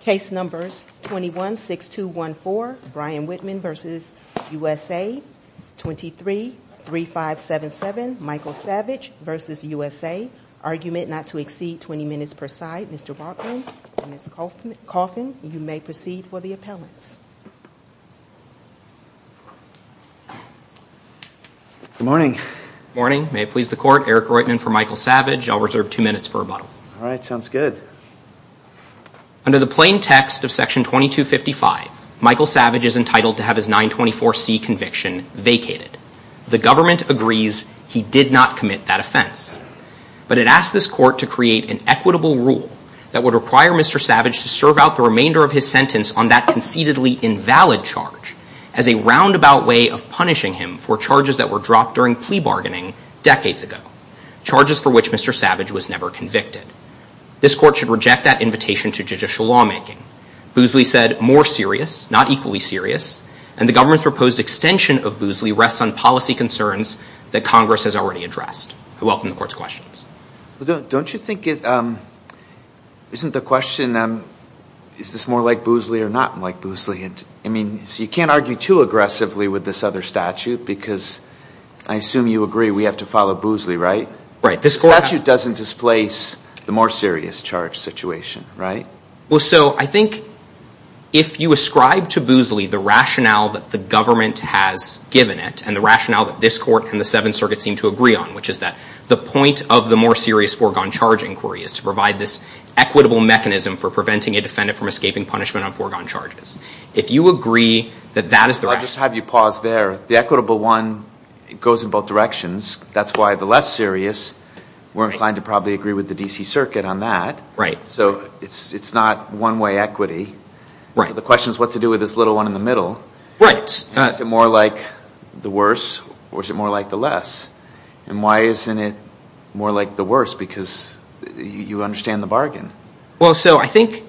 Case numbers 21-6214 Brian Whitman v. USA 23-3577 Michael Savage v. USA Argument not to exceed 20 minutes per side. Mr. Brockman and Ms. Coffin you may proceed for the appellants. Good morning. Good morning. May it please the court. Eric Reutman for Michael Savage. I'll reserve two minutes for rebuttal. All right, sounds good. Under the plain text of section 2255 Michael Savage is entitled to have his 924C conviction vacated. The government agrees he did not commit that offense. But it asks this court to create an equitable rule that would require Mr. Savage to serve out the remainder of his sentence on that concededly invalid charge as a roundabout way of punishing him for charges that were dropped during plea bargaining decades ago. Charges for which Mr. Savage was never convicted. This court should reject that invitation to judicial lawmaking. Boosley said more serious, not equally serious. And the government's proposed extension of Boosley rests on policy concerns that Congress has already addressed. I welcome the court's questions. Don't you think isn't the question is this more like Boosley or not like Boosley? I mean, you can't argue too aggressively with this other statute because I assume you agree we have to follow Boosley, right? The statute doesn't displace the more serious charge situation, right? Well, so I think if you ascribe to Boosley the rationale that the government has given it and the rationale that this court and the Seventh Circuit seem to agree on, which is that the point of the more serious foregone charge inquiry is to provide this equitable mechanism for preventing a defendant from escaping punishment on foregone charges. If you agree that that is the rationale. I'll just have you pause there. The equitable one goes in both directions. That's why the less serious, we're inclined to probably agree with the D.C. Circuit on that. Right. So it's not one-way equity. Right. The question is what to do with this little one in the middle. Right. Is it more like the worse or is it more like the less? And why isn't it more like the worse? Because you understand the bargain. Well, so I think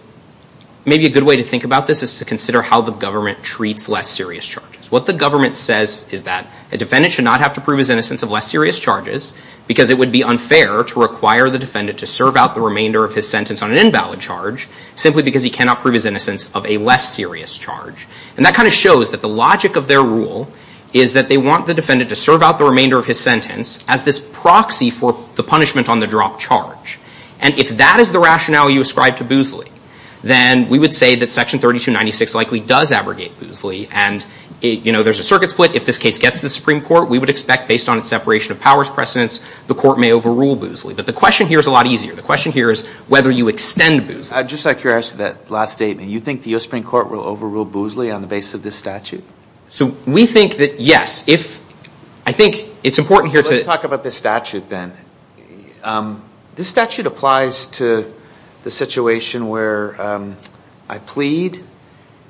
maybe a good way to think about this is to consider how the government treats less serious charges. What the government says is that a defendant should not have to prove his innocence of less serious charges because it would be unfair to require the defendant to serve out the remainder of his sentence on an invalid charge simply because he cannot prove his innocence of a less serious charge. And that kind of shows that the logic of their rule is that they want the defendant to serve out the remainder of his sentence as this proxy for the punishment on the dropped charge. And if that is the rationale you ascribe to Boozley, then we would say that Section 3296 likely does abrogate Boozley. And, you know, there's a circuit split. If this case gets to the Supreme Court, we would expect based on its separation of powers precedence, the court may overrule Boozley. But the question here is a lot easier. The question here is whether you extend Boozley. Just like your answer to that last statement, you think the Supreme Court will overrule Boozley on the basis of this statute? So we think that, yes, if I think it's important here to Let's talk about this statute then. This statute applies to the situation where I plead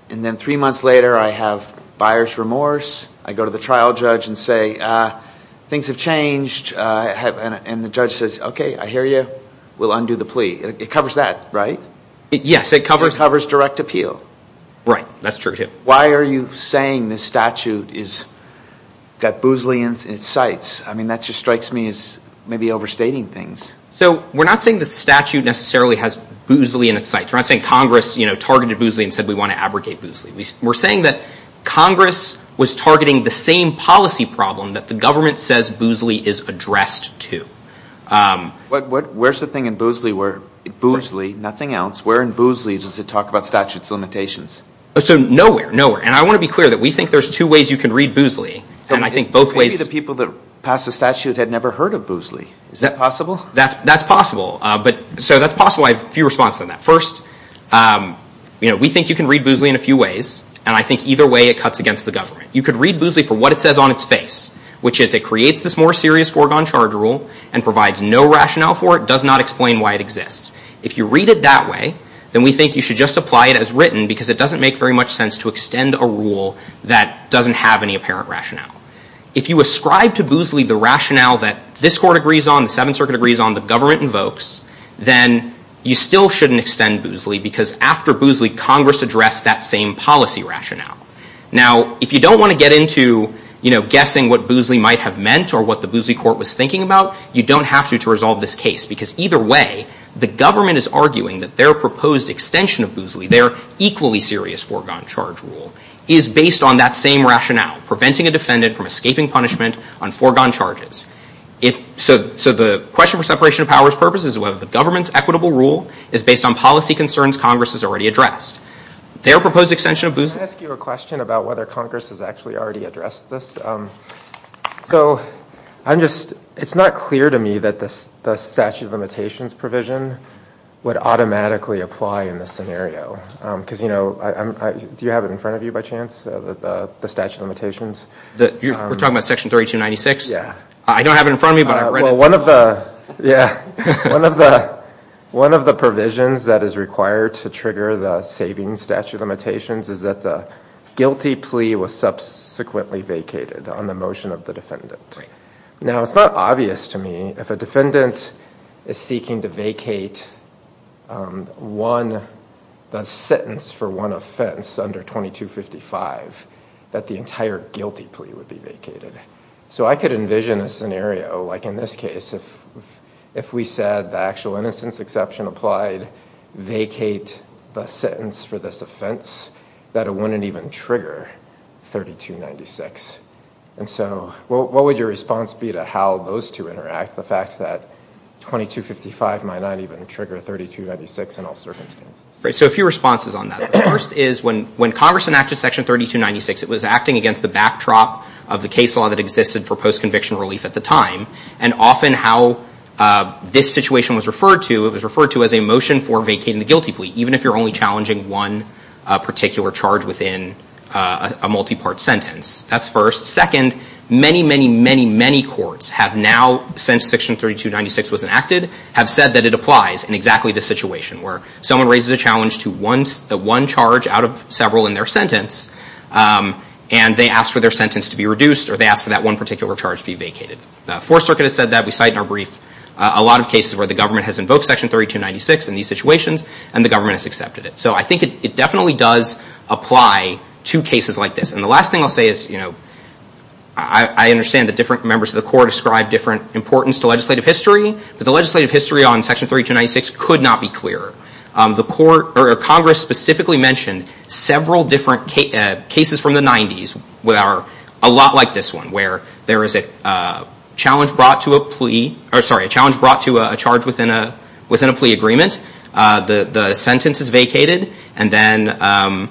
and then three months later I have buyer's remorse. I go to the trial judge and say, ah, things have changed. And the judge says, okay, I hear you. We'll undo the plea. It covers that, right? It covers direct appeal. Why are you saying this statute has Boozley in its sights? I mean, that just strikes me as maybe overstating things. So we're not saying the statute necessarily has Boozley in its sights. We're not saying Congress targeted Boozley and said we want to abrogate Boozley. We're saying that Congress was targeting the same policy problem that the government says Boozley is addressed to. Where's the thing in Boozley where Boozley, nothing else, where in Boozley does it talk about statute's limitations? So nowhere. Nowhere. And I want to be clear that we think there's two ways you can read Boozley. Maybe the people that passed the statute had never heard of Boozley. Is that possible? That's possible. So that's possible. I have a few responses on that. First, we think you can read Boozley in a few ways. And I think either way it cuts against the government. You could read Boozley for what it says on its face, which is it creates this more serious foregone charge rule and provides no rationale for it, does not explain why it exists. If you read it that way, then we think you should just apply it as written because it doesn't make very much sense to extend a rule that doesn't have any apparent rationale. If you ascribe to Boozley the rationale that this court agrees on, the Seventh Circuit agrees on, the government invokes, then you still shouldn't extend Boozley because after Boozley, Congress addressed that same policy rationale. Now, if you don't want to get into, you know, what Boozley Court was thinking about, you don't have to to resolve this case because either way, the government is arguing that their proposed extension of Boozley, their equally serious foregone charge rule, is based on that same rationale, preventing a defendant from escaping punishment on foregone charges. So the question for separation of powers purposes is whether the government's equitable rule is based on policy concerns Congress has already addressed. Their proposed extension of Boozley... So I'm just, it's not clear to me that the statute of limitations provision would automatically apply in this scenario. Because, you know, do you have it in front of you by chance, the statute of limitations? We're talking about Section 3296? I don't have it in front of me, but I've read it. Well, one of the provisions that is required to trigger the saving statute of limitations is that the guilty plea was subsequently vacated on the motion of the defendant. Now, it's not obvious to me, if a defendant is seeking to vacate the sentence for one offense under 2255, that the entire guilty plea would be vacated. So I could envision a scenario, like in this case, if we said the actual innocence exception applied, vacate the sentence for this offense, that it wouldn't even trigger 3296. And so what would your response be to how those two interact, the fact that 2255 might not even trigger 3296 in all circumstances? Right. So a few responses on that. The first is when Congress enacted Section 3296, it was acting against the backdrop of the case law that existed for post-conviction relief at the time. And often how this situation was referred to, it was referred to as a motion for vacating the guilty plea, even if you're only challenging one particular charge within a multi-part sentence. That's first. Second, many, many, many, many courts have now, since Section 3296 was enacted, have said that it applies in exactly this situation, where someone raises a challenge to one charge out of several in their sentence, and they ask for their sentence to be reduced, or they ask for that one particular charge to be vacated. The Fourth Circuit has said that. We cite in our brief a lot of cases where the government has invoked Section 3296 in these situations, and the government has accepted it. So I think it definitely does apply to cases like this. And the last thing I'll say is I understand that different members of the Court ascribe different importance to legislative history, but the legislative history on Section 3296 could not be clearer. Congress specifically mentioned several different cases from the 90s that are a lot like this one, where there is a challenge brought to a plea, or sorry, a challenge brought to a charge within a plea agreement. The sentence is vacated, and then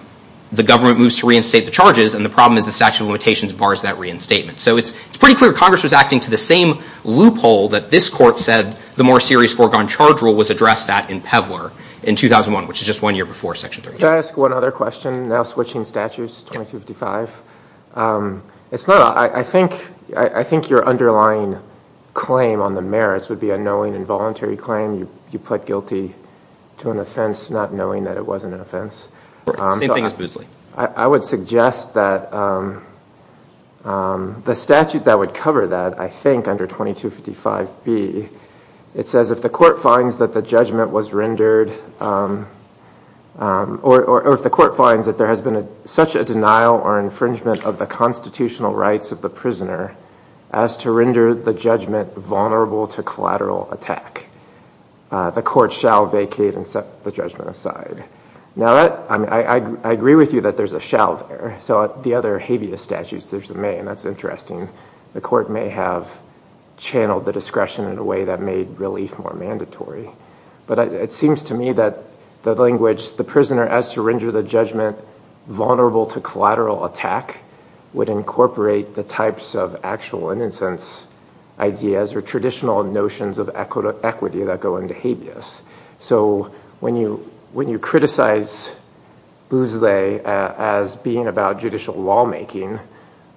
the government moves to reinstate the charges, and the problem is the statute of limitations bars that reinstatement. So it's pretty clear Congress was acting to the same loophole that this Court said the more serious foregone charge rule was addressed at in Pevler in 2001, which is just one year before Section 32. Can I ask one other question, now switching statutes, 2255? I think your underlying claim on the merits would be a knowing and voluntary claim. You pled guilty to an offense not knowing that it wasn't an offense. I would suggest that the statute that would cover that, I think under 2255B, it says if the Court finds that the judgment was rendered, or if the Court finds that there has been such a denial or infringement of the constitutional rights of the prisoner as to render the judgment vulnerable to collateral attack, the Court shall vacate and set the judgment aside. Now, I agree with you that there's a shall there, so the other habeas statutes, there's the may, and that's interesting. The Court may have channeled the discretion in a way that made relief more mandatory. But it seems to me that the language, the prisoner as to render the judgment vulnerable to collateral attack, would incorporate the types of actual innocence ideas, or traditional notions of equity that go into habeas. So when you criticize Bousley as being about judicial lawmaking,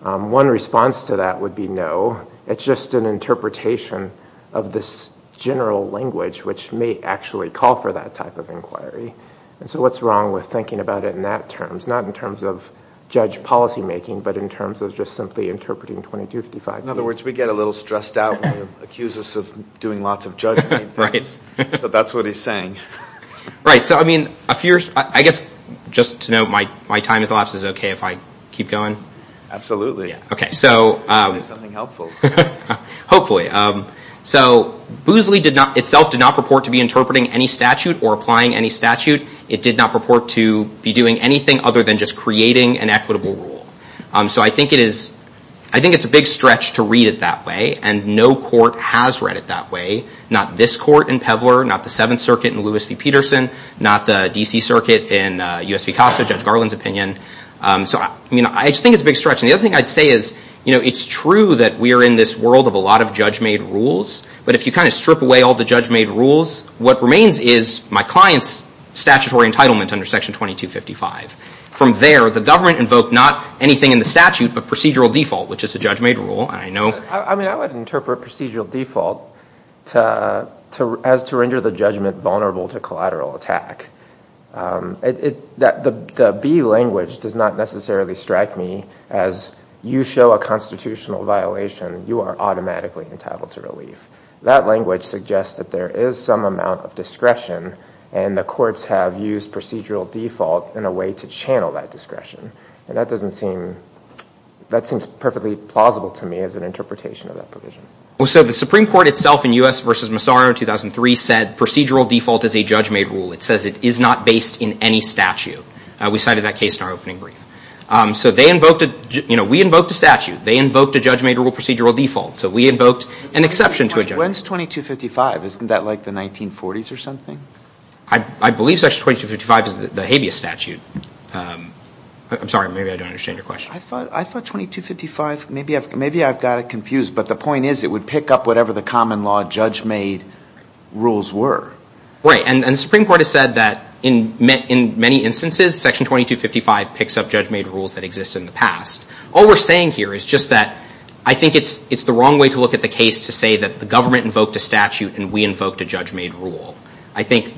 one response to that would be no, it's just an interpretation of this general language, which may actually call for that type of inquiry. And so what's wrong with thinking about it in that terms, not in terms of judge policymaking, but in terms of just simply interpreting 2255? In other words, we get a little stressed out when you accuse us of doing lots of judgment things. So that's what he's saying. Right, so I guess just to note, my time has elapsed. Is it okay if I keep going? Absolutely. Hopefully. So Bousley itself did not purport to be interpreting any statute or applying any statute. It did not purport to be doing anything other than just creating an equitable rule. So I think it's a big stretch to read it that way, and no court has read it that way. Not this court in Pevler, not the Seventh Circuit in Lewis v. Peterson, not the D.C. Circuit in U.S. v. Costa, Judge Garland's opinion. So I just think it's a big stretch. And the other thing I'd say is it's true that we are in this world of a lot of judge-made rules, but if you kind of strip away all the judge-made rules, what remains is my client's statutory entitlement under Section 2255. From there, the government invoked not anything in the statute, but procedural default, which is a judge-made rule. I mean, I would interpret procedural default as to render the judgment vulnerable to collateral attack. The B language does not necessarily strike me as you show a constitutional violation, you are automatically entitled to relief. That language suggests that there is some amount of discretion, and the courts have used procedural default in a way to channel that discretion. And that doesn't seem, that seems perfectly plausible to me as an interpretation of that provision. Well, so the Supreme Court itself in U.S. v. Massaro in 2003 said procedural default is a judge-made rule. It says it is not based in any statute. We cited that case in our opening brief. So they invoked, you know, we invoked a statute. They invoked a judge-made rule procedural default. So we invoked an exception to a judgment. When is 2255? Isn't that like the 1940s or something? I believe Section 2255 is the habeas statute. I'm sorry, maybe I don't understand your question. I thought 2255, maybe I've got it confused. But the point is it would pick up whatever the common law judge-made rules were. Right. And the Supreme Court has said that in many instances, Section 2255 picks up judge-made rules that exist in the past. All we're saying here is just that I think it's the wrong way to look at the case to say that the government invoked a statute and we invoked a judge-made rule. I think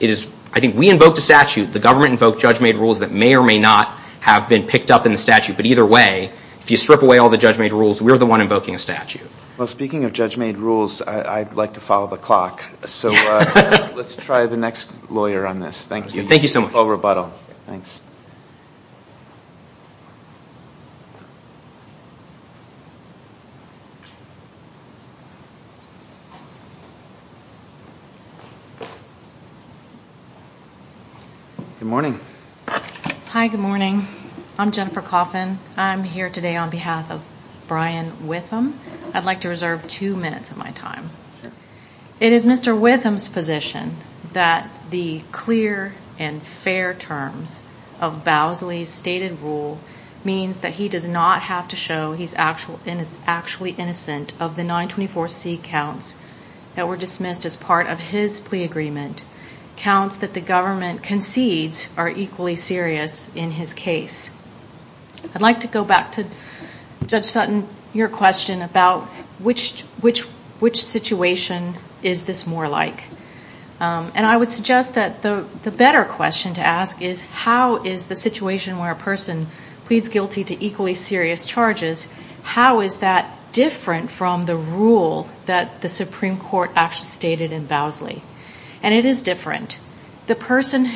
we invoked a statute. The government invoked judge-made rules that may or may not have been picked up in the statute. But either way, if you strip away all the judge-made rules, we're the one invoking a statute. Well, speaking of judge-made rules, I'd like to follow the clock. So let's try the next lawyer on this. Thank you. Thank you so much. Good morning. Hi, good morning. I'm Jennifer Coffin. I'm here today on behalf of Brian Witham. I'd like to reserve two minutes of my time. It is Mr. Witham's position that the clear and fair terms of Bousley's stated rule means that he does not have to show he's actually innocent of the 924C counts that were dismissed as part of his plea agreement, counts that the government concedes are equally serious in his case. I'd like to go back to Judge Sutton, your question about which situation is this more like. And I would suggest that the better question to ask is how is the situation where a person pleads guilty to equally serious charges, how is that different from the rule that the Supreme Court actually stated in Bousley? And it is different. The Supreme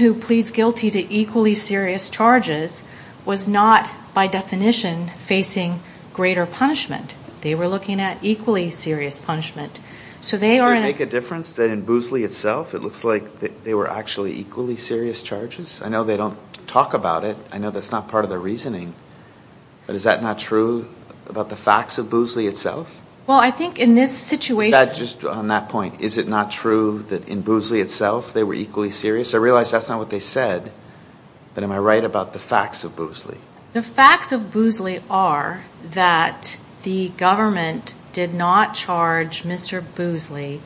Court was not, by definition, facing greater punishment. They were looking at equally serious punishment. Does it make a difference that in Bousley itself it looks like they were actually equally serious charges? I know they don't talk about it. I know that's not part of their reasoning. But is that not true about the facts of Bousley itself? Well, I think in this situation... Is that just on that point, is it not true that in Bousley itself they were equally serious? I realize that's not what they said, but am I right about the facts of Bousley? The facts of Bousley are that the government did not charge Mr. Bousley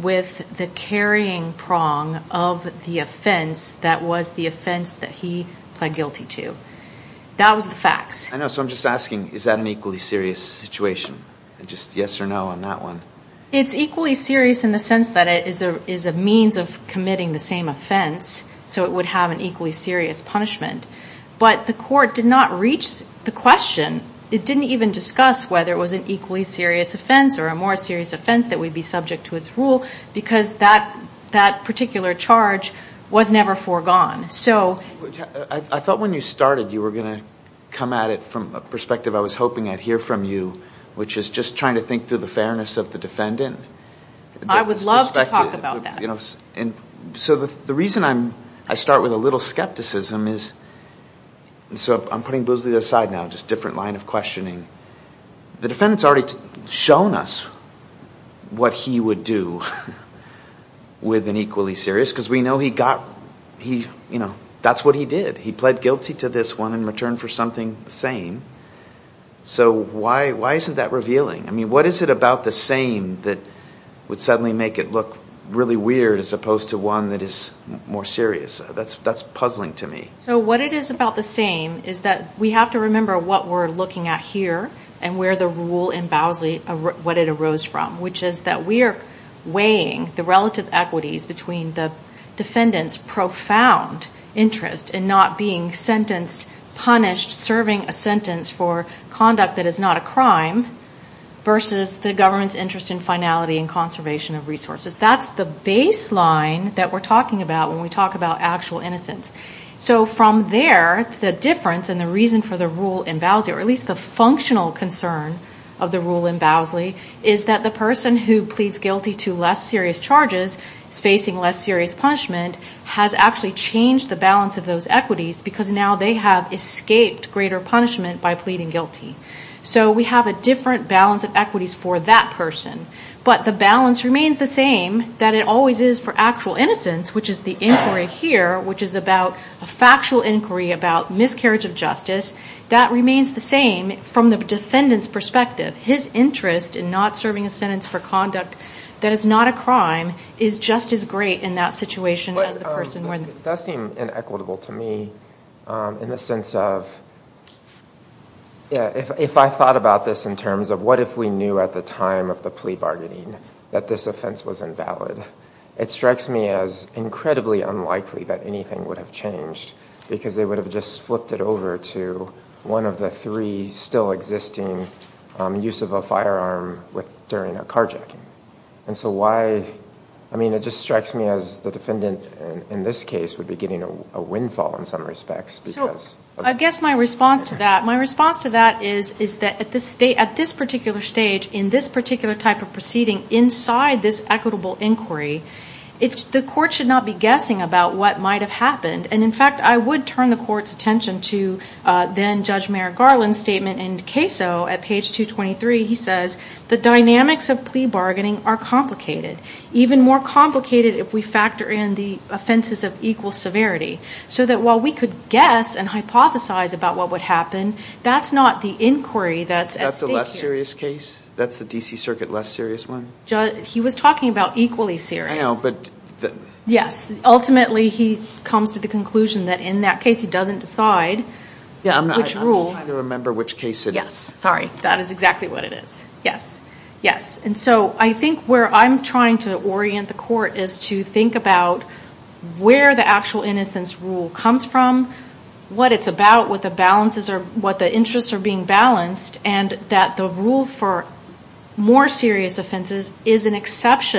with the carrying prong of the offense that was the offense that he pled guilty to. I know, so I'm just asking, is that an equally serious situation? It's equally serious in the sense that it is a means of committing the same offense, so it would have an equally serious punishment. But the court did not reach the question, it didn't even discuss whether it was an equally serious offense or a more serious offense that would be subject to its rule, because that particular charge was never foregone. I thought when you started you were going to come at it from a perspective I was hoping I'd hear from you, which is just trying to think through the fairness of the defendant. I would love to talk about that. So the reason I start with a little skepticism is... So I'm putting Bousley aside now, just a different line of questioning. The defendant's already shown us what he would do with an equally serious, because we know that's what he did. He pled guilty to this one in return for something the same, so why isn't that revealing? What is it about the same that would suddenly make it look really weird as opposed to one that is more serious? That's puzzling to me. So the question is, what is the difference between the nature and where the rule in Bousley, what it arose from, which is that we are weighing the relative equities between the defendant's profound interest in not being sentenced, punished, serving a sentence for conduct that is not a crime versus the government's interest in finality and conservation of resources. That's the baseline that we're talking about when we talk about actual innocence. The additional concern of the rule in Bousley is that the person who pleads guilty to less serious charges is facing less serious punishment, has actually changed the balance of those equities, because now they have escaped greater punishment by pleading guilty. So we have a different balance of equities for that person, but the balance remains the same that it always is for actual innocence, which is the inquiry here, which is about a factual inquiry about miscarriage of justice. That remains the same from the defendant's perspective. His interest in not serving a sentence for conduct that is not a crime is just as great in that situation as the person where the... That seemed inequitable to me in the sense of, if I thought about this in terms of what if we knew at the time of the plea bargaining that this offense was invalid? It strikes me as incredibly unlikely that anything would have changed, because they would have just flipped it over to a different case. One of the three still existing use of a firearm during a carjacking. It just strikes me as the defendant in this case would be getting a windfall in some respects. I guess my response to that is that at this particular stage, in this particular type of proceeding, inside this equitable inquiry, the court should not be guessing about what might have happened. In fact, I would turn the court's attention to then Judge Merrick Garland's statement in CASO at page 223. He says, the dynamics of plea bargaining are complicated, even more complicated if we factor in the offenses of equal severity, so that while we could guess and hypothesize about what would happen, that's not the inquiry that's at stake here. Is that the less serious case? That's the D.C. Circuit less serious one? He was talking about equally serious. Ultimately, he comes to the conclusion that in that case, he doesn't decide which rule. I'm just trying to remember which case it is. I think where I'm trying to orient the court is to think about where the actual innocence rule comes from, what it's about, what the balances are, what the interests are being balanced, and that the rule for more serious offenses, the more serious the offense,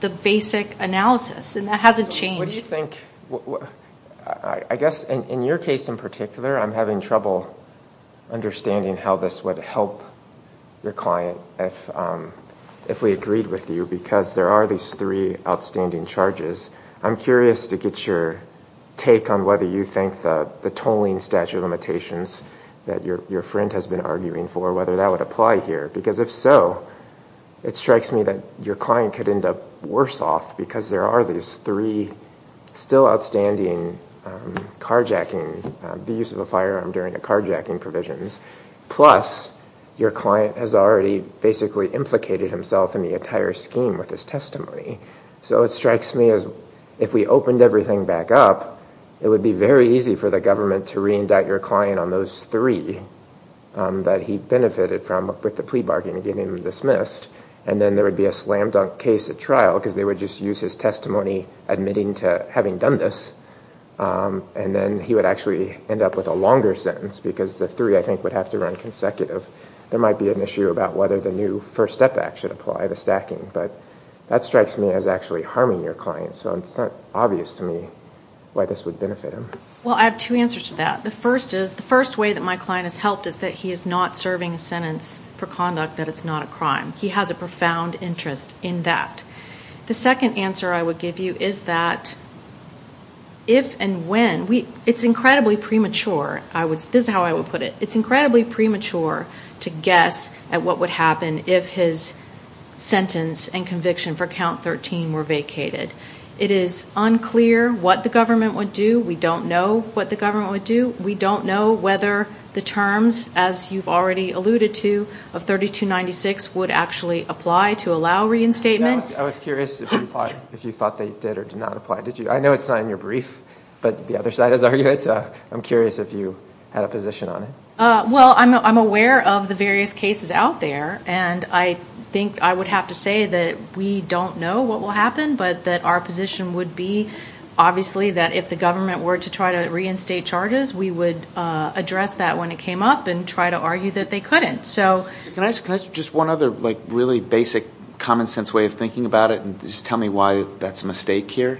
the more serious it is. And I think that that is an exception to the basic analysis, and that hasn't changed. What do you think? I guess in your case in particular, I'm having trouble understanding how this would help your client if we agreed with you, because there are these three outstanding charges. I'm curious to get your take on whether you think the tolling statute of limitations that your friend has been arguing for, whether that would apply here. Because if so, it strikes me that your client could end up worse off because there are these three still outstanding carjacking, the use of a firearm during the carjacking provisions. Plus, your client has already basically implicated himself in the entire scheme with his testimony. So it strikes me as if we opened everything back up, it would be very easy for the government to reindict your client on those three that he benefited from with the plea bargain. And then there would be a slam dunk case at trial, because they would just use his testimony admitting to having done this. And then he would actually end up with a longer sentence, because the three, I think, would have to run consecutive. There might be an issue about whether the new First Step Act should apply the stacking. But that strikes me as actually harming your client, so it's not obvious to me why this would benefit him. Well, I have two answers to that. One is that he has a profound interest in the fact that it's not a crime. He has a profound interest in that. The second answer I would give you is that if and when, it's incredibly premature, this is how I would put it, it's incredibly premature to guess at what would happen if his sentence and conviction for count 13 were vacated. It is unclear what the government would do. We don't know what the government would do. We don't know whether the terms, as you've already alluded to, of 3296 would actually apply to allow reinstatement. I was curious if you thought they did or did not apply. I know it's not in your brief, but the other side has argued it. So I'm curious if you had a position on it. Well, I'm aware of the various cases out there, and I think I would have to say that we don't know what will happen, but that our position would be, obviously, that if the government were to try to reinstate charges, we would address that when it came up and try to argue that they couldn't. Can I ask just one other really basic common sense way of thinking about it, and just tell me why that's a mistake here?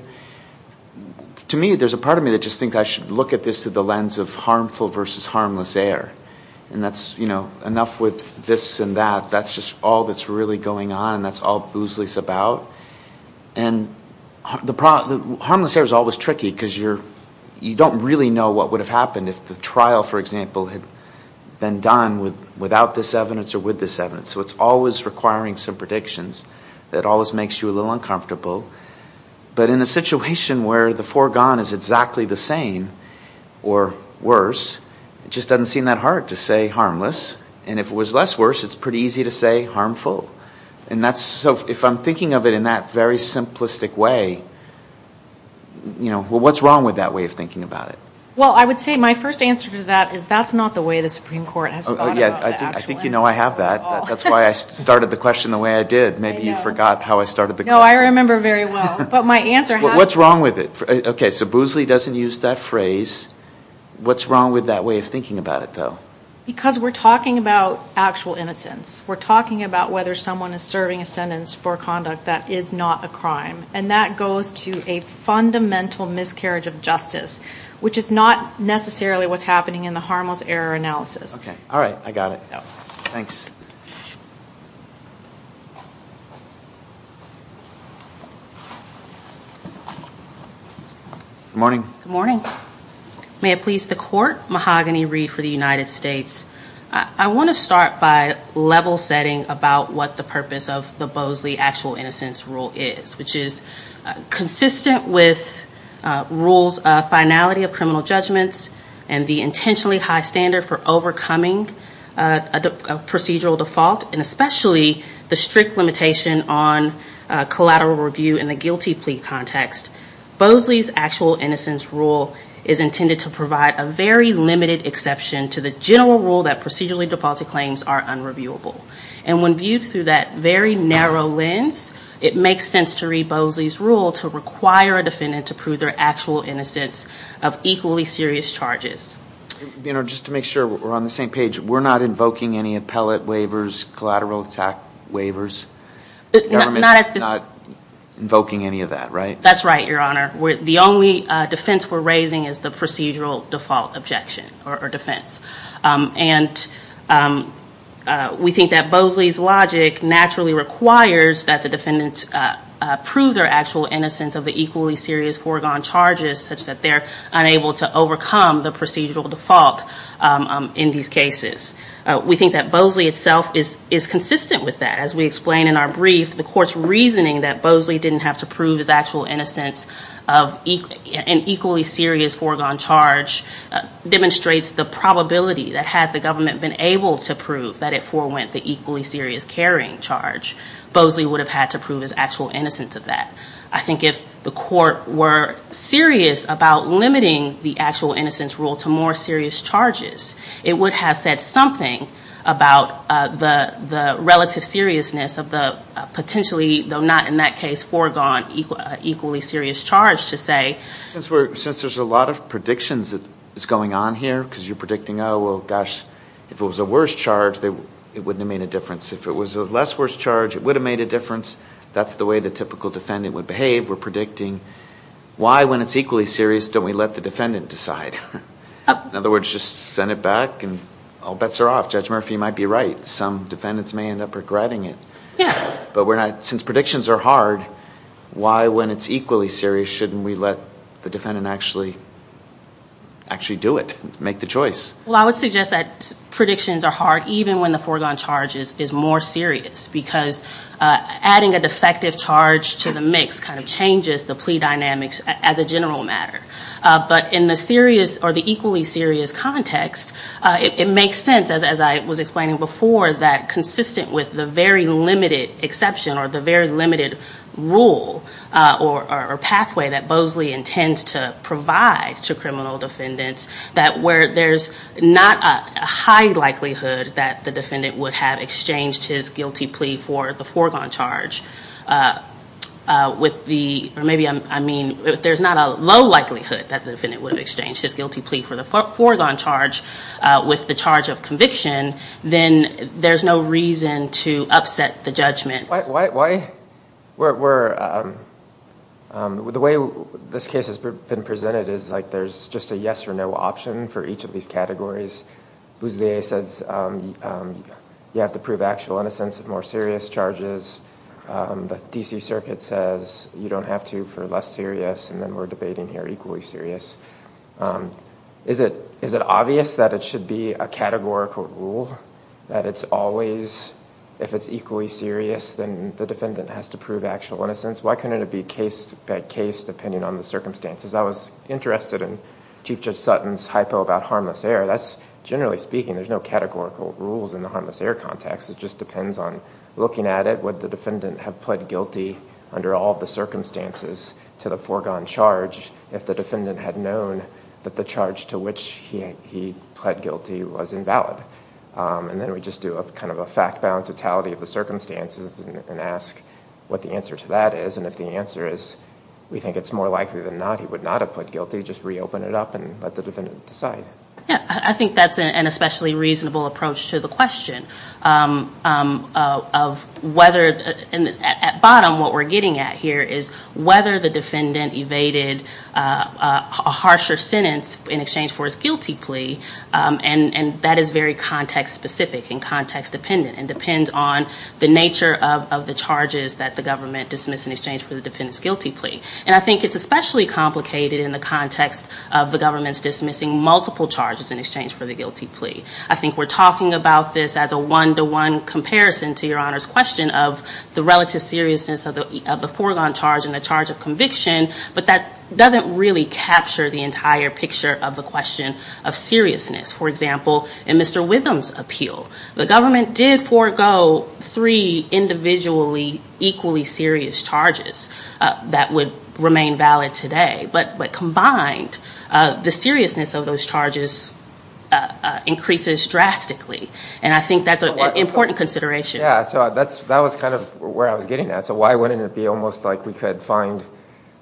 To me, there's a part of me that just thinks I should look at this through the lens of harmful versus harmless air. And that's, you know, enough with this and that. That's just all that's really going on, and that's all Boosley's about. Harmless air is always tricky, because you don't really know what would have happened if the trial, for example, had been done without this evidence or with this evidence. So it's always requiring some predictions that always makes you a little uncomfortable. But in a situation where the foregone is exactly the same, or worse, it just doesn't seem that hard to say harmless. And if it was less worse, it's pretty easy to say harmful. So if I'm thinking of it in that very simplistic way, what's wrong with that way of thinking about it? Well, I would say my first answer to that is that's not the way the Supreme Court has thought about the actual incident at all. I think you know I have that. That's why I started the question the way I did. Maybe you forgot how I started the question. No, I remember very well. But my answer has to be... What's wrong with it? Okay, so Boosley doesn't use that phrase. What's wrong with that way of thinking about it, though? Because we're talking about actual innocence. We're talking about whether someone is serving a sentence for conduct that is not a crime. And that goes to a fundamental miscarriage of justice, which is not necessarily what's happening in the harmless error analysis. Okay. All right. I got it. Thanks. Good morning. May it please the Court. Mahogany Reed for the United States. I want to start by level setting about what the purpose of the Boosley Actual Innocence Rule is, which is consistent with rules of finality of criminal judgments and the intentionally high standard for overcoming a procedural default, and especially the strict limitation on collateral review in the guilty plea context. Boosley's Actual Innocence Rule is intended to provide a very limited exception to the general rule that procedurally defaulted claims are unreviewable. And when viewed through that very narrow lens, it makes sense to read Boosley's Rule to require a defendant to prove their actual innocence of equally serious charges. You know, just to make sure we're on the same page, we're not invoking any appellate waivers, collateral attack waivers? Not invoking any of that, right? That's right, Your Honor. The only defense we're raising is the procedural default objection or defense. And we think that Boosley's logic naturally requires that the defendant prove their actual innocence of the equally serious foregone charges such that they're unable to overcome the procedural default in these cases. We think that Boosley itself is consistent with that. As we explain in our brief, the Court's reasoning that Boosley didn't have to prove his actual innocence of an equally serious foregone charge demonstrates the probability that had the government been able to prove that it forewent the equally serious carrying charge, Boosley would have had to prove his actual innocence of that. I think if the Court were serious about limiting the Actual Innocence Rule to more serious charges, it would have said something about the relative seriousness of the potentially, though not in that case, foregone equally serious charge to say. Since there's a lot of predictions that's going on here, because you're predicting, oh, well, gosh, if it was a worse charge, it wouldn't have made a difference. If it was a less worse charge, it would have made a difference. That's the way the typical defendant would behave. We're predicting why, when it's equally serious, don't we let the defendant decide? In other words, just send it back and all bets are off. Judge Murphy might be right. Some defendants may end up regretting it. But since predictions are hard, why, when it's equally serious, shouldn't we let the defendant actually do it, make the choice? Well, I would suggest that predictions are hard even when the foregone charge is more serious, because adding a defective charge to the mix kind of changes the plea dynamics as a general matter. But in the equally serious context, it makes sense, as I was explaining before, that consistent with the very limited exception or the very limited rule or pathway that Bosley intends to provide to criminal defendants, that where there's not a high likelihood that the defendant would have exchanged his guilty plea for the foregone charge with the, or maybe I mean if there's not a low likelihood that the defendant would have exchanged his guilty plea for the foregone charge with the charge of conviction, then there's no reason to upset the judgment. Why, the way this case has been presented is like there's just a yes or no option for each of these categories. Bosley says you have to prove actual innocence of more serious charges. The D.C. Circuit says you don't have to for less serious, and then we're debating here equally serious. Is it obvious that it should be a categorical rule that it's always, if it's equally serious, then the defendant has to prove actual innocence? Why couldn't it be case by case depending on the circumstances? I was interested in Chief Judge Sutton's hypo about harmless error. That's, generally speaking, there's no categorical rules in the harmless error context. It just depends on looking at it. Why would the defendant have pled guilty under all the circumstances to the foregone charge if the defendant had known that the charge to which he pled guilty was invalid? And then we just do a kind of a fact-bound totality of the circumstances and ask what the answer to that is. And if the answer is we think it's more likely than not he would not have pled guilty, just reopen it up and let the defendant decide. Yeah, I think that's an especially reasonable approach to the question of whether, at bottom what we're getting at here is whether the defendant evaded a harsher sentence in exchange for his guilty plea, and that is very context-specific and context-dependent and depends on the nature of the charges that the government dismissed in exchange for the defendant's guilty plea. And I think it's especially complicated in the context of the government's dismissing multiple charges in exchange for the guilty plea. I think we're talking about this as a one-to-one comparison to Your Honor's question of the relative seriousness of the foregone charge and the charge of conviction, but that doesn't really capture the entire picture of the question of seriousness. For example, in Mr. Witham's appeal, the government did forego three individually equally serious charges that would remain valid today. But combined, the seriousness of those charges increases drastically. And I think that's an important consideration. Yeah, so that was kind of where I was getting at. So why wouldn't it be almost like we could find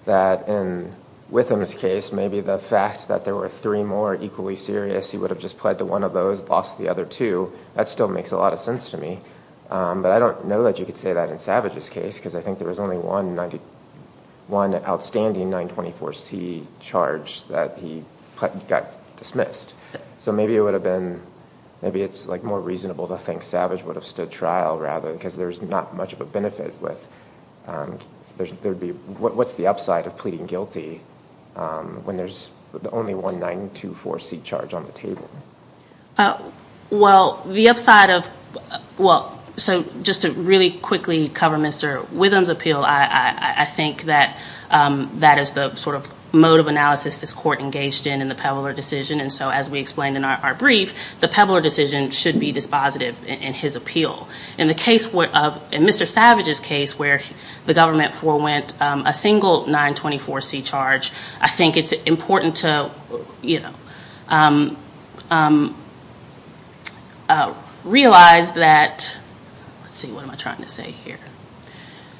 that in Witham's case, maybe the fact that there were three more equally serious, he would have just pled to one of those, lost the other two, that still makes a lot of sense to me. But I don't know that you could say that in Savage's case, because I think there was only one outstanding 924C charge that he got dismissed. So maybe it's more reasonable to think Savage would have stood trial, rather, because there's not much of a benefit. What's the upside of pleading guilty when there's only one 924C charge on the table? Well, the upside of, well, so just to really quickly cover Mr. Witham's appeal, I think that that is the sort of mode of analysis this court engaged in in the Pebbler decision. And so as we explained in our brief, the Pebbler decision should be dispositive in his appeal. In Mr. Savage's case, where the government forewent a single 924C charge, I think it's important to realize that, let's see, what am I trying to say here?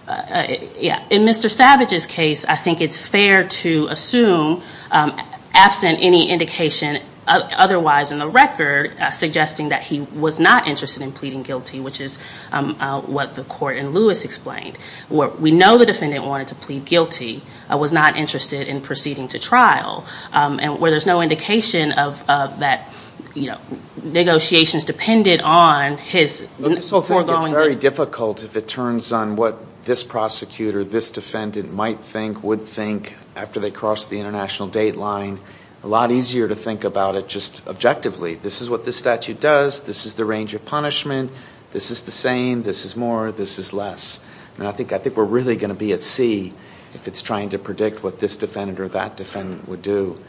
In Mr. Savage's case, I think it's fair to assume, absent any indication otherwise in the record, suggesting that he was not interested in pleading guilty, which is what the court in Lewis explained. Where we know the defendant wanted to plead guilty, was not interested in proceeding to trial. And where there's no indication of that, you know, negotiations depended on his foregoing... It's very difficult, if it turns on what this prosecutor, this defendant might think, would think, after they cross the international date line, a lot easier to think about it just objectively. This is what this statute does. This is the range of punishment. This is the same. This is more. This is less. And I think we're really going to be at sea if it's trying to predict what this defendant or that defendant would do.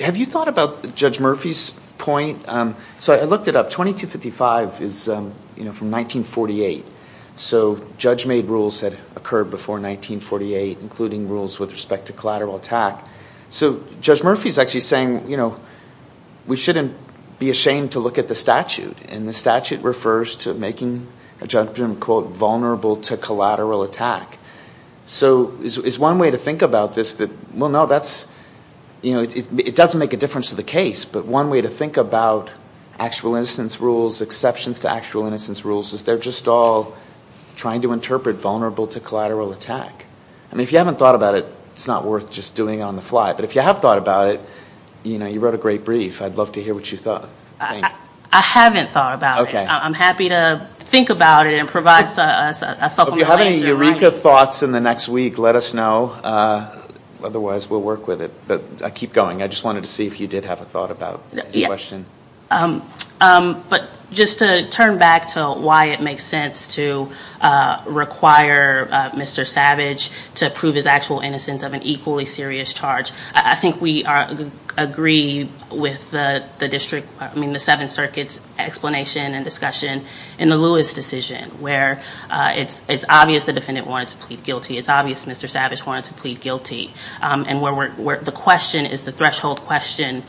Have you thought about Judge Murphy's point? So I looked it up. 2255 is from 1948. So judge-made rules had occurred before 1948, including rules with respect to collateral attack. So Judge Murphy's actually saying, you know, we shouldn't be ashamed to look at the statute. And the statute refers to making a judgment, quote, vulnerable to collateral attack. So is one way to think about this that, well, no, that's, you know, it doesn't make a difference to the case. But one way to think about actual innocence rules, exceptions to actual innocence rules, is they're just all trying to interpret vulnerable to collateral attack. I mean, if you haven't thought about it, it's not worth just doing it on the fly. But if you have thought about it, you know, you wrote a great brief. I'd love to hear what you thought. I haven't thought about it. I'm happy to think about it and provide a supplemental answer. If you have any Eureka thoughts in the next week, let us know. Otherwise, we'll work with it. But I keep going. I just wanted to see if you did have a thought about the question. But just to turn back to why it makes sense to require Mr. Savage to prove his actual innocence of an equally serious charge. I think we agree with the district, I mean, the Seventh Circuit's explanation and discussion in the Lewis decision. Where it's obvious the defendant wanted to plead guilty. It's obvious Mr. Savage wanted to plead guilty. And where the question is the threshold question.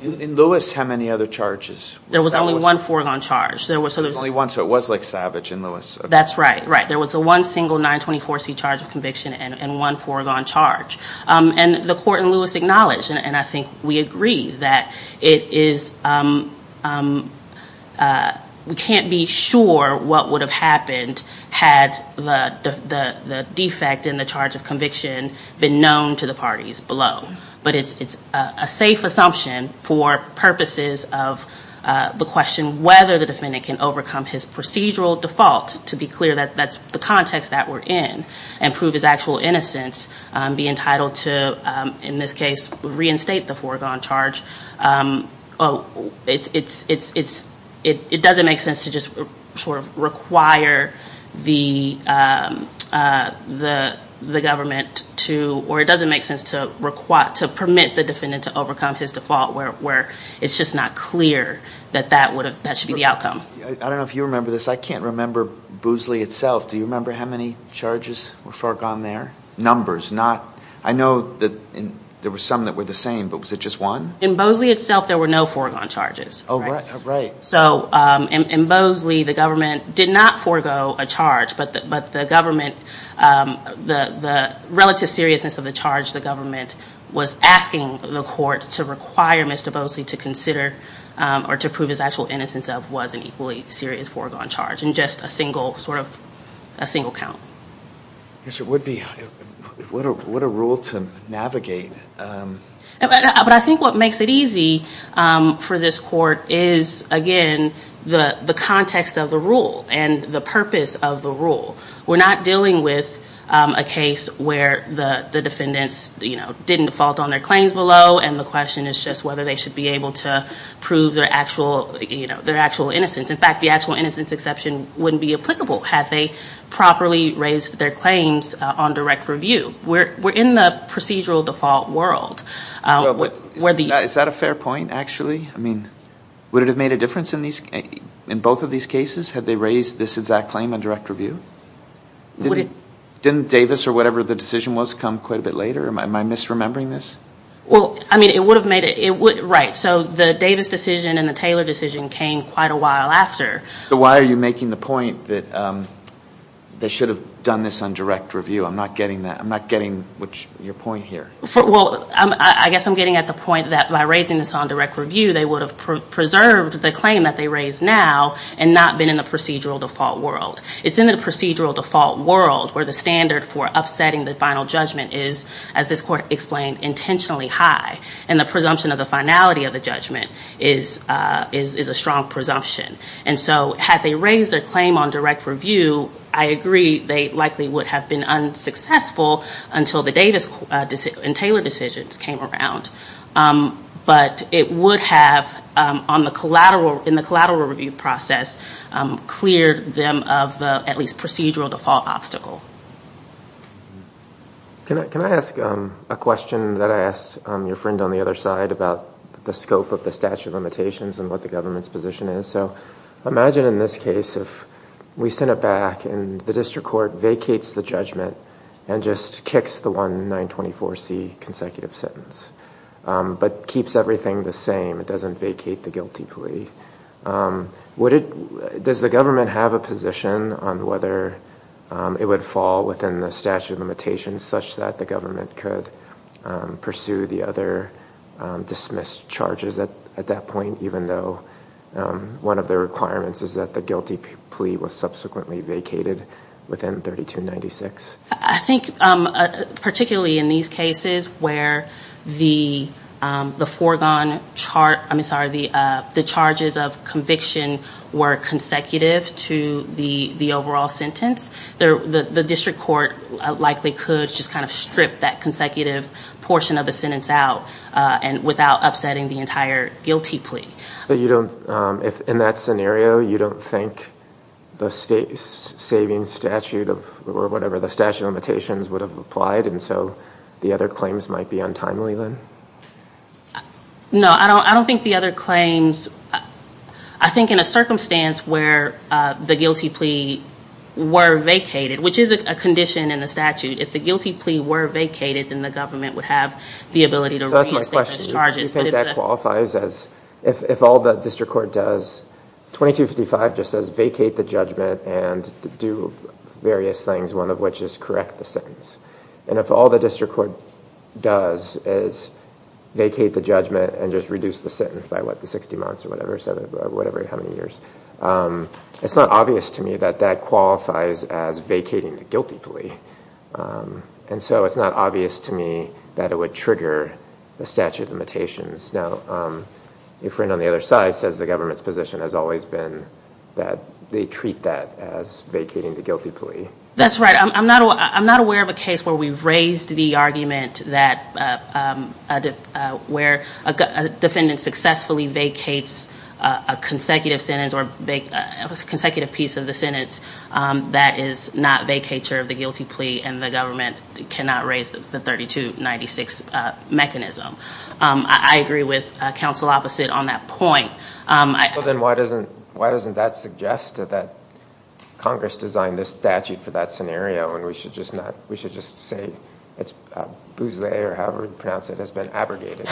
In Lewis, how many other charges? There was only one foregone charge. There was only one, so it was like Savage in Lewis. That's right. There was one single 924C charge of conviction and one foregone charge. And the court in Lewis acknowledged, and I think we agree, that it is, we can't be sure what would have happened had the defect in the charge of conviction been known to the parties below. But it's a safe assumption for purposes of the question, whether the defendant can overcome his procedural default, to be clear, that's the context that we're in, and prove his actual innocence, be entitled to, in this case, reinstate the foregone charge. It doesn't make sense to just sort of require the government to, or it doesn't make sense to permit the defendant to overcome his default, where it's just not clear that that should be the outcome. I don't know if you remember this, I can't remember Boosley itself, do you remember how many charges were foregone there? Numbers, not, I know there were some that were the same, but was it just one? In Boosley itself there were no foregone charges. So in Boosley the government did not forego a charge, but the government, the relative seriousness of the charge the government was asking the court to require Mr. Boosley to consider, or to prove his actual innocence of, was an equally serious foregone charge, and just a single sort of, a single count. Yes, it would be, what a rule to navigate. But I think what makes it easy for this court is, again, the context of the rule, and the purpose of the rule. We're not dealing with a case where the defendants didn't default on their claims below, and the question is just whether they should be able to prove their actual innocence. In fact, the actual innocence exception wouldn't be applicable had they properly raised their claims on direct review. We're in the procedural default world. Is that a fair point, actually? I mean, would it have made a difference in both of these cases had they raised this exact claim on direct review? Didn't Davis or whatever the decision was come quite a bit later? Am I misremembering this? Well, I mean, it would have made a, it would, right. So the Davis decision and the Taylor decision came quite a while after. So why are you making the point that they should have done this on direct review? I'm not getting that. I'm not getting your point here. Well, I guess I'm getting at the point that by raising this on direct review, they would have preserved the claim that they raised now, and not been in the procedural default world. It's in the procedural default world where the standard for upsetting the final judgment is, as this court explained, intentionally high. And the presumption of the finality of the judgment is a strong presumption. And so had they raised their claim on direct review, I agree they likely would have been unsuccessful until the Davis and Taylor decisions came around. But it would have, on the collateral, in the collateral review process, cleared them of the at least procedural default obstacle. Can I ask a question that I asked your friend on the other side about the scope of the statute of limitations and what the government's position is? So imagine in this case if we sent it back and the district court vacates the judgment and just kicks the one 924C consecutive sentence. But keeps everything the same, it doesn't vacate the guilty plea. Does the government have a position on whether it would fall within the statute of limitations such that the government could pursue the other dismissed charges at that point, even though one of the requirements is that the guilty plea was subsequently vacated within 3296? I think particularly in these cases where the foregone, I'm sorry, the charges of conviction were consecutive to the overall sentence, the district court likely could just kind of strip that consecutive portion of the sentence out without upsetting the entire guilty plea. But you don't, in that scenario, you don't think the state's saving statute or whatever, the statute of limitations, would have applied and so the other claims might be untimely then? No, I don't think the other claims, I think in a circumstance where the guilty plea were vacated, which is a condition in the statute, if the guilty plea were vacated then the government would have the ability to reinstate those charges. That's my question. If all the district court does, 2255 just says vacate the judgment and do various things, one of which is correct the sentence. And if all the district court does is vacate the judgment and just reduce the sentence by, what, the 60 months or whatever, whatever, how many years, it's not obvious to me that that qualifies as vacating the guilty plea. And so it's not obvious to me that it would trigger the statute of limitations. Now, your friend on the other side says the government's position has always been that they treat that as vacating the guilty plea. That's right. I'm not aware of a case where we've raised the argument that where a defendant successfully vacates a consecutive sentence or a consecutive piece of the sentence that is not vacature of the guilty plea and the government cannot raise the 3296 mechanism. I agree with counsel opposite on that point. Well, then why doesn't that suggest that Congress designed this statute for that scenario and we should just say it's a buse or however you pronounce it has been abrogated?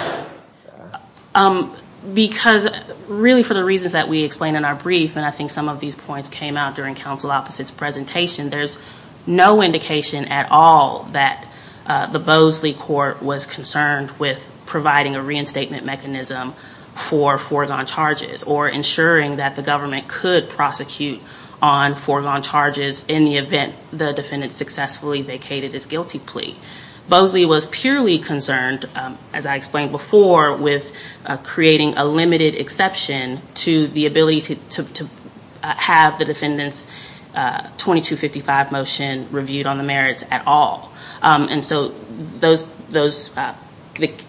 Because really for the reasons that we explained in our brief, and I think some of these points came out during counsel opposite's presentation, there's no indication at all that the Bosley court was concerned with providing a reinstatement mechanism for foregone charges or ensuring that the government could prosecute on foregone charges in the event the defendant successfully vacated his guilty plea. Bosley was purely concerned, as I explained before, with creating a limited exception to the ability to have the defendant's 2255 motion reviewed on the merits at all. And so the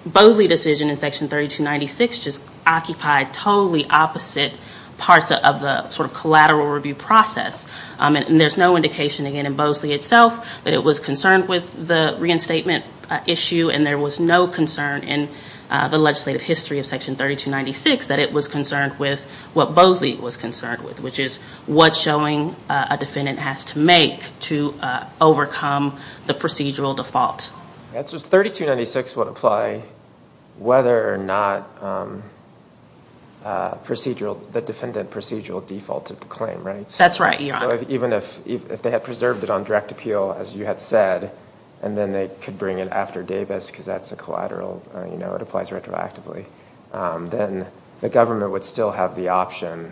Bosley decision in section 3296 just occupied totally opposite parts of the sort of collateral review process. And there's no indication again in Bosley itself that it was concerned with the reinstatement issue and there was no concern in the legislative history of section 3296 that it was concerned with what Bosley was concerned with, which is what showing a defendant has to make to overcome the procedural default. 3296 would apply whether or not the defendant procedural defaulted the claim, right? That's right, Your Honor. Even if they had preserved it on direct appeal, as you had said, and then they could bring it after Davis because that's a collateral, you know, it applies retroactively, then the government would still have the option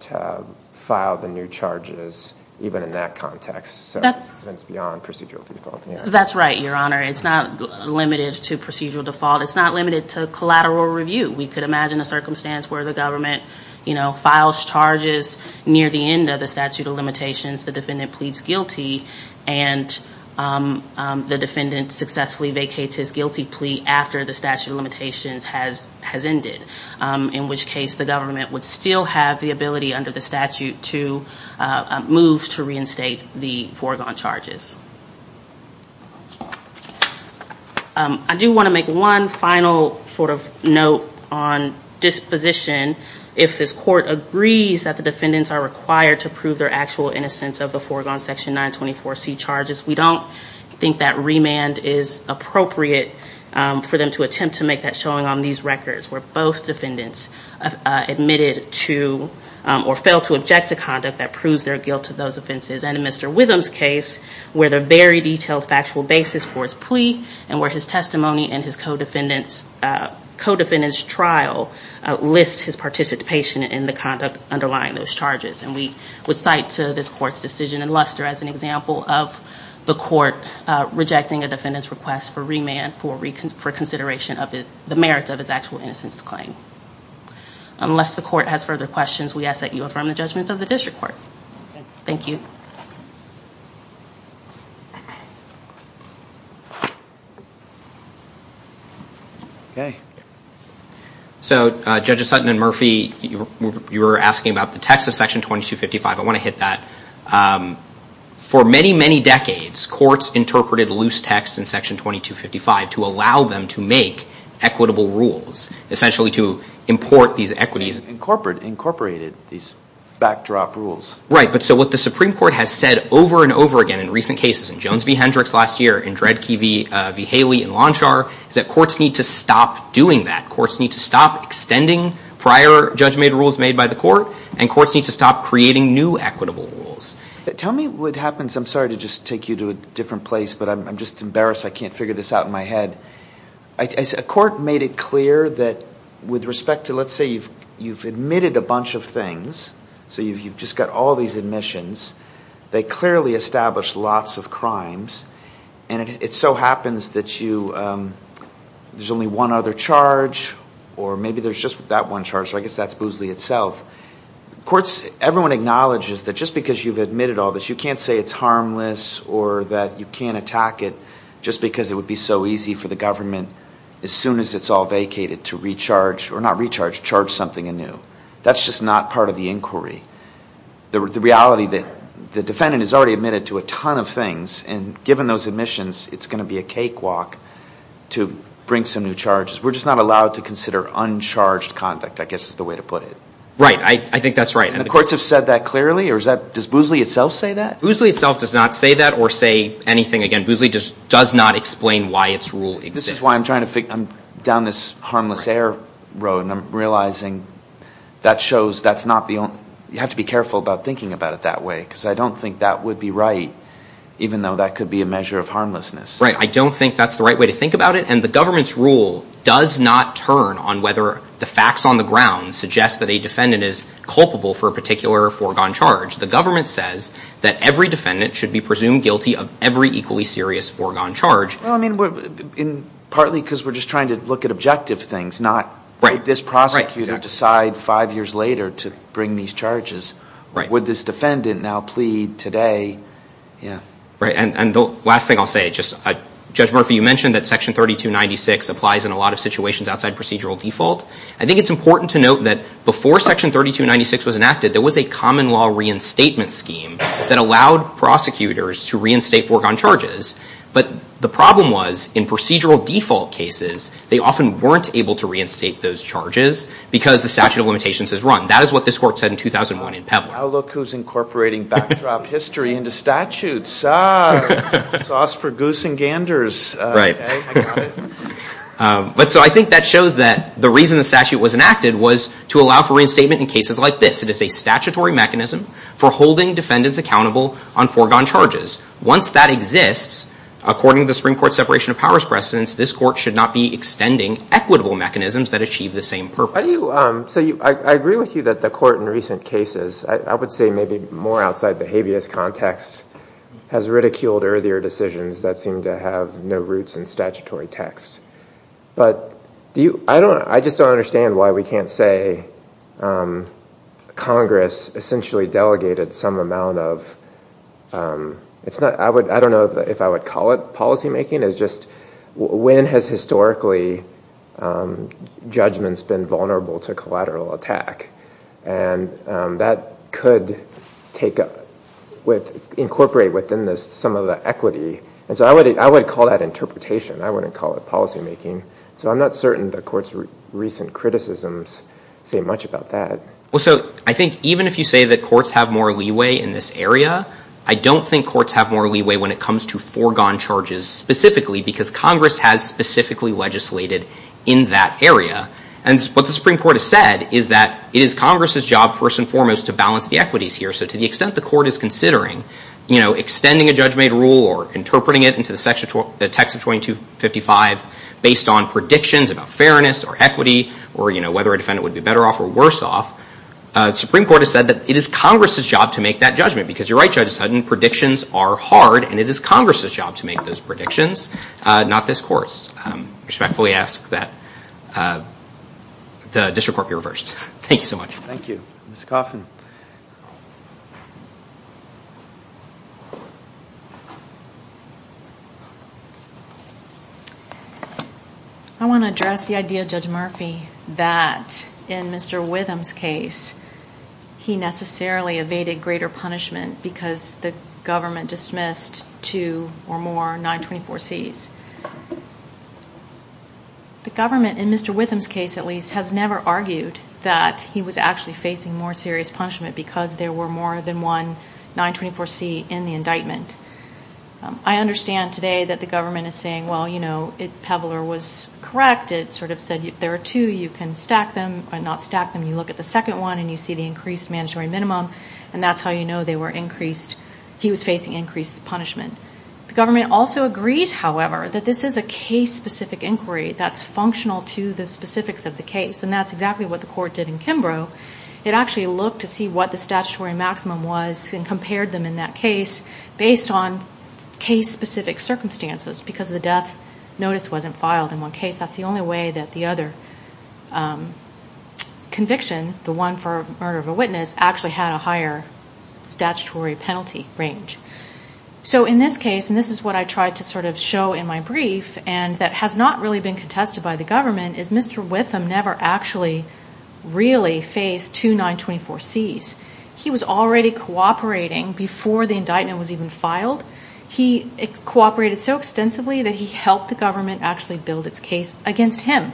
to file the new charges even in that context. So it's beyond procedural default. That's right, Your Honor. It's not limited to procedural default. It's not limited to collateral review. We could imagine a circumstance where the government, you know, files charges near the end of the statute of limitations, the defendant pleads guilty and the defendant successfully vacates his guilty plea after the statute of limitations has ended, in which case the government would still have the ability under the statute to move to reinstate the foregone charges. I do want to make one final sort of note on disposition. If this court agrees that the defendants are required to prove their actual innocence of the foregone Section 924C charges, we don't think that remand is appropriate for them to attempt to make that showing on these records, where both defendants admitted to or failed to object to conduct that proves their guilt to those offenses. And in Mr. Witham's case, where the very detailed factual basis for his plea and where his testimony and his co-defendant's trial lists his participation in the conduct underlying those charges. And we would cite this court's decision in Luster as an example of the court rejecting a defendant's request for remand for consideration of the merits of his actual innocence claim. Unless the court has further questions, we ask that you affirm the judgments of the district court. Thank you. So, Judges Sutton and Murphy, you were asking about the text of Section 2255. I want to hit that. For many, many decades, courts interpreted loose text in Section 2255 to allow them to make equitable rules, essentially to import these equities. Incorporated these backdrop rules. Right, but so what the Supreme Court has said over and over again in recent cases, in Jones v. Hendricks last year, in Dredd v. Haley and Lonchar, is that courts need to stop doing that. Courts need to stop extending prior judgment rules made by the court, and courts need to stop creating new equitable rules. Tell me what happens, I'm sorry to just take you to a different place, but I'm just embarrassed I can't figure this out in my head. A court made it clear that with respect to, let's say you've admitted a bunch of things, so you've just got all these admissions. They clearly establish lots of crimes, and it so happens that you, there's only one other charge, or maybe there's just that one charge, so I guess that's Boozley itself. Courts, everyone acknowledges that just because you've admitted all this, you can't say it's harmless or that you can't attack it just because it would be so easy for the government, as soon as it's all vacated, to recharge, or not recharge, charge something anew. That's just not part of the inquiry. The reality that the defendant has already admitted to a ton of things, and given those admissions, it's going to be a cakewalk to bring some new charges. We're just not allowed to consider uncharged conduct, I guess is the way to put it. Right, I think that's right. And the courts have said that clearly, or does Boozley itself say that? Boozley itself does not say that or say anything, again, Boozley just does not explain why its rule exists. This is why I'm trying to figure, I'm down this harmless air road, and I'm realizing that shows that's not the only, you have to be careful about thinking about it that way, because I don't think that would be right, even though that could be a measure of harmlessness. Right, I don't think that's the right way to think about it, and the government's rule does not turn on whether the facts on the ground suggest that a defendant is culpable for a particular foregone charge. The government says that every defendant should be presumed guilty of every equally serious foregone charge. Well, I mean, partly because we're just trying to look at objective things, not let this prosecutor decide five years later to bring these charges. Would this defendant now plead today? Right, and the last thing I'll say, Judge Murphy, you mentioned that Section 3296 applies in a lot of situations outside procedural default. I think it's important to note that before Section 3296 was enacted, there was a common law reinstatement scheme that allowed prosecutors to reinstate foregone charges. But the problem was, in procedural default cases, they often weren't able to reinstate those charges, because the statute of limitations has run. That is what this court said in 2001 in Pevel. Oh, look who's incorporating backdrop history into statutes. Sauce for goose and ganders. So I think that shows that the reason the statute was enacted was to allow for reinstatement in cases like this. It is a statutory mechanism for holding defendants accountable on foregone charges. Once that exists, according to the Supreme Court's separation of powers precedence, this court should not be extending equitable mechanisms that achieve the same purpose. I agree with you that the court in recent cases, I would say maybe more outside the habeas context, has ridiculed earlier decisions that seem to have no roots in statutory text. I just don't understand why we can't say Congress essentially delegated some amount of... I don't know if I would call it policymaking. When has historically judgments been vulnerable to collateral attack? That could incorporate within this some of the equity. I would call that interpretation. I wouldn't call it policymaking. I'm not certain the court's recent criticisms say much about that. Even if you say that courts have more leeway in this area, I don't think courts have more leeway when it comes to foregone charges. I don't think courts have more leeway specifically because Congress has specifically legislated in that area. What the Supreme Court has said is that it is Congress's job first and foremost to balance the equities here. To the extent the court is considering extending a judge-made rule or interpreting it into the text of 2255 based on predictions about fairness or equity, or whether a defendant would be better off or worse off, the Supreme Court has said that it is Congress's job to make that judgment. Because you're right, Judge Sutton, predictions are hard, and it is Congress's job to make those predictions, not this court's. I respectfully ask that the district court be reversed. Thank you so much. Thank you. Ms. Coffin. I want to address the idea, Judge Murphy, that in Mr. Witham's case, he necessarily evaded greater punishment because the government dismissed two or more 924Cs. The government, in Mr. Witham's case at least, has never argued that he was actually facing more serious punishment because there were more than one 924C in the indictment. I understand today that the government is saying, well, you know, Peveler was correct. It sort of said, if there are two, you can stack them, but not stack them. You look at the second one, and you see the increased mandatory minimum, and that's how you know they were increased. He was facing increased punishment. The government also agrees, however, that this is a case-specific inquiry that's functional to the specifics of the case. And that's exactly what the court did in Kimbrough. It actually looked to see what the statutory maximum was and compared them in that case based on case-specific circumstances because the death notice wasn't filed in one case. That's the only way that the other conviction, the one for murder of a witness, actually had a higher statutory penalty range. So in this case, and this is what I tried to sort of show in my brief, and that has not really been contested by the government, is Mr. Witham never actually really faced two 924Cs. He was already cooperating before the indictment was even filed. He cooperated so extensively that he helped the government actually build its case against him.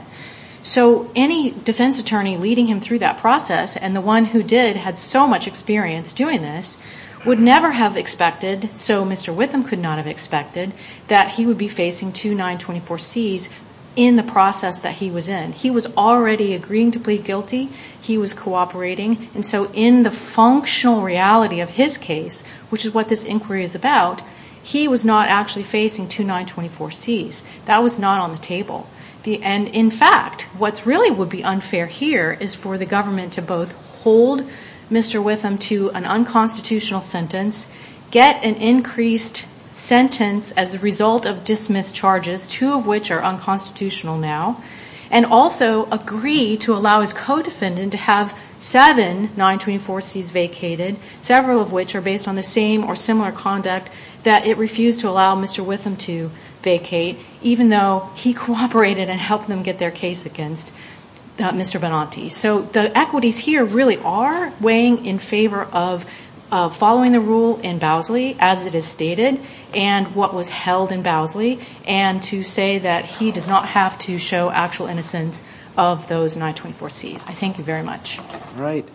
So any defense attorney leading him through that process, and the one who did had so much experience doing this, would never have expected, so Mr. Witham could not have expected, that he would be facing two 924Cs in the process that he was in. He was already agreeing to plead guilty. He was cooperating. And so in the functional reality of his case, which is what this inquiry is about, he was not actually facing two 924Cs. That was not on the table. And in fact, what really would be unfair here is for the government to both hold Mr. Witham to an unconstitutional sentence, get an increased sentence as a result of dismissed charges, two of which are unconstitutional now, and also agree to allow his co-defendant to have seven 924Cs vacated, several of which are based on the same or similar conduct that it refused to allow Mr. Witham to vacate, even though he cooperated and helped them get their case against Mr. Benanti. So the equities here really are weighing in favor of following the rule in Bowsley, as it is stated, and what was held in Bowsley, and to say that he does not have to show actual innocence of those 924Cs. I thank you very much. All right.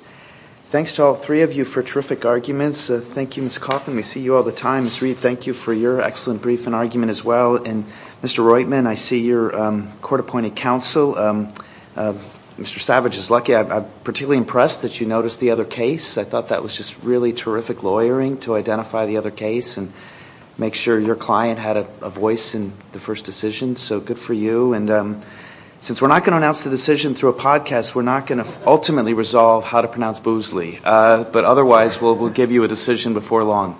Thanks to all three of you for terrific arguments. Thank you, Ms. Coughlin. We see you all the time. Ms. Reed, thank you for your excellent brief and argument as well. And Mr. Roitman, I see you're court-appointed counsel. Mr. Savage is lucky. I'm particularly impressed that you noticed the other case. I thought that was just really terrific lawyering to identify the other case and make sure your client had a voice in the first decision. So good for you. And since we're not going to announce the decision through a podcast, we're not going to ultimately resolve how to pronounce Bowsley. But otherwise, we'll give you a decision before long.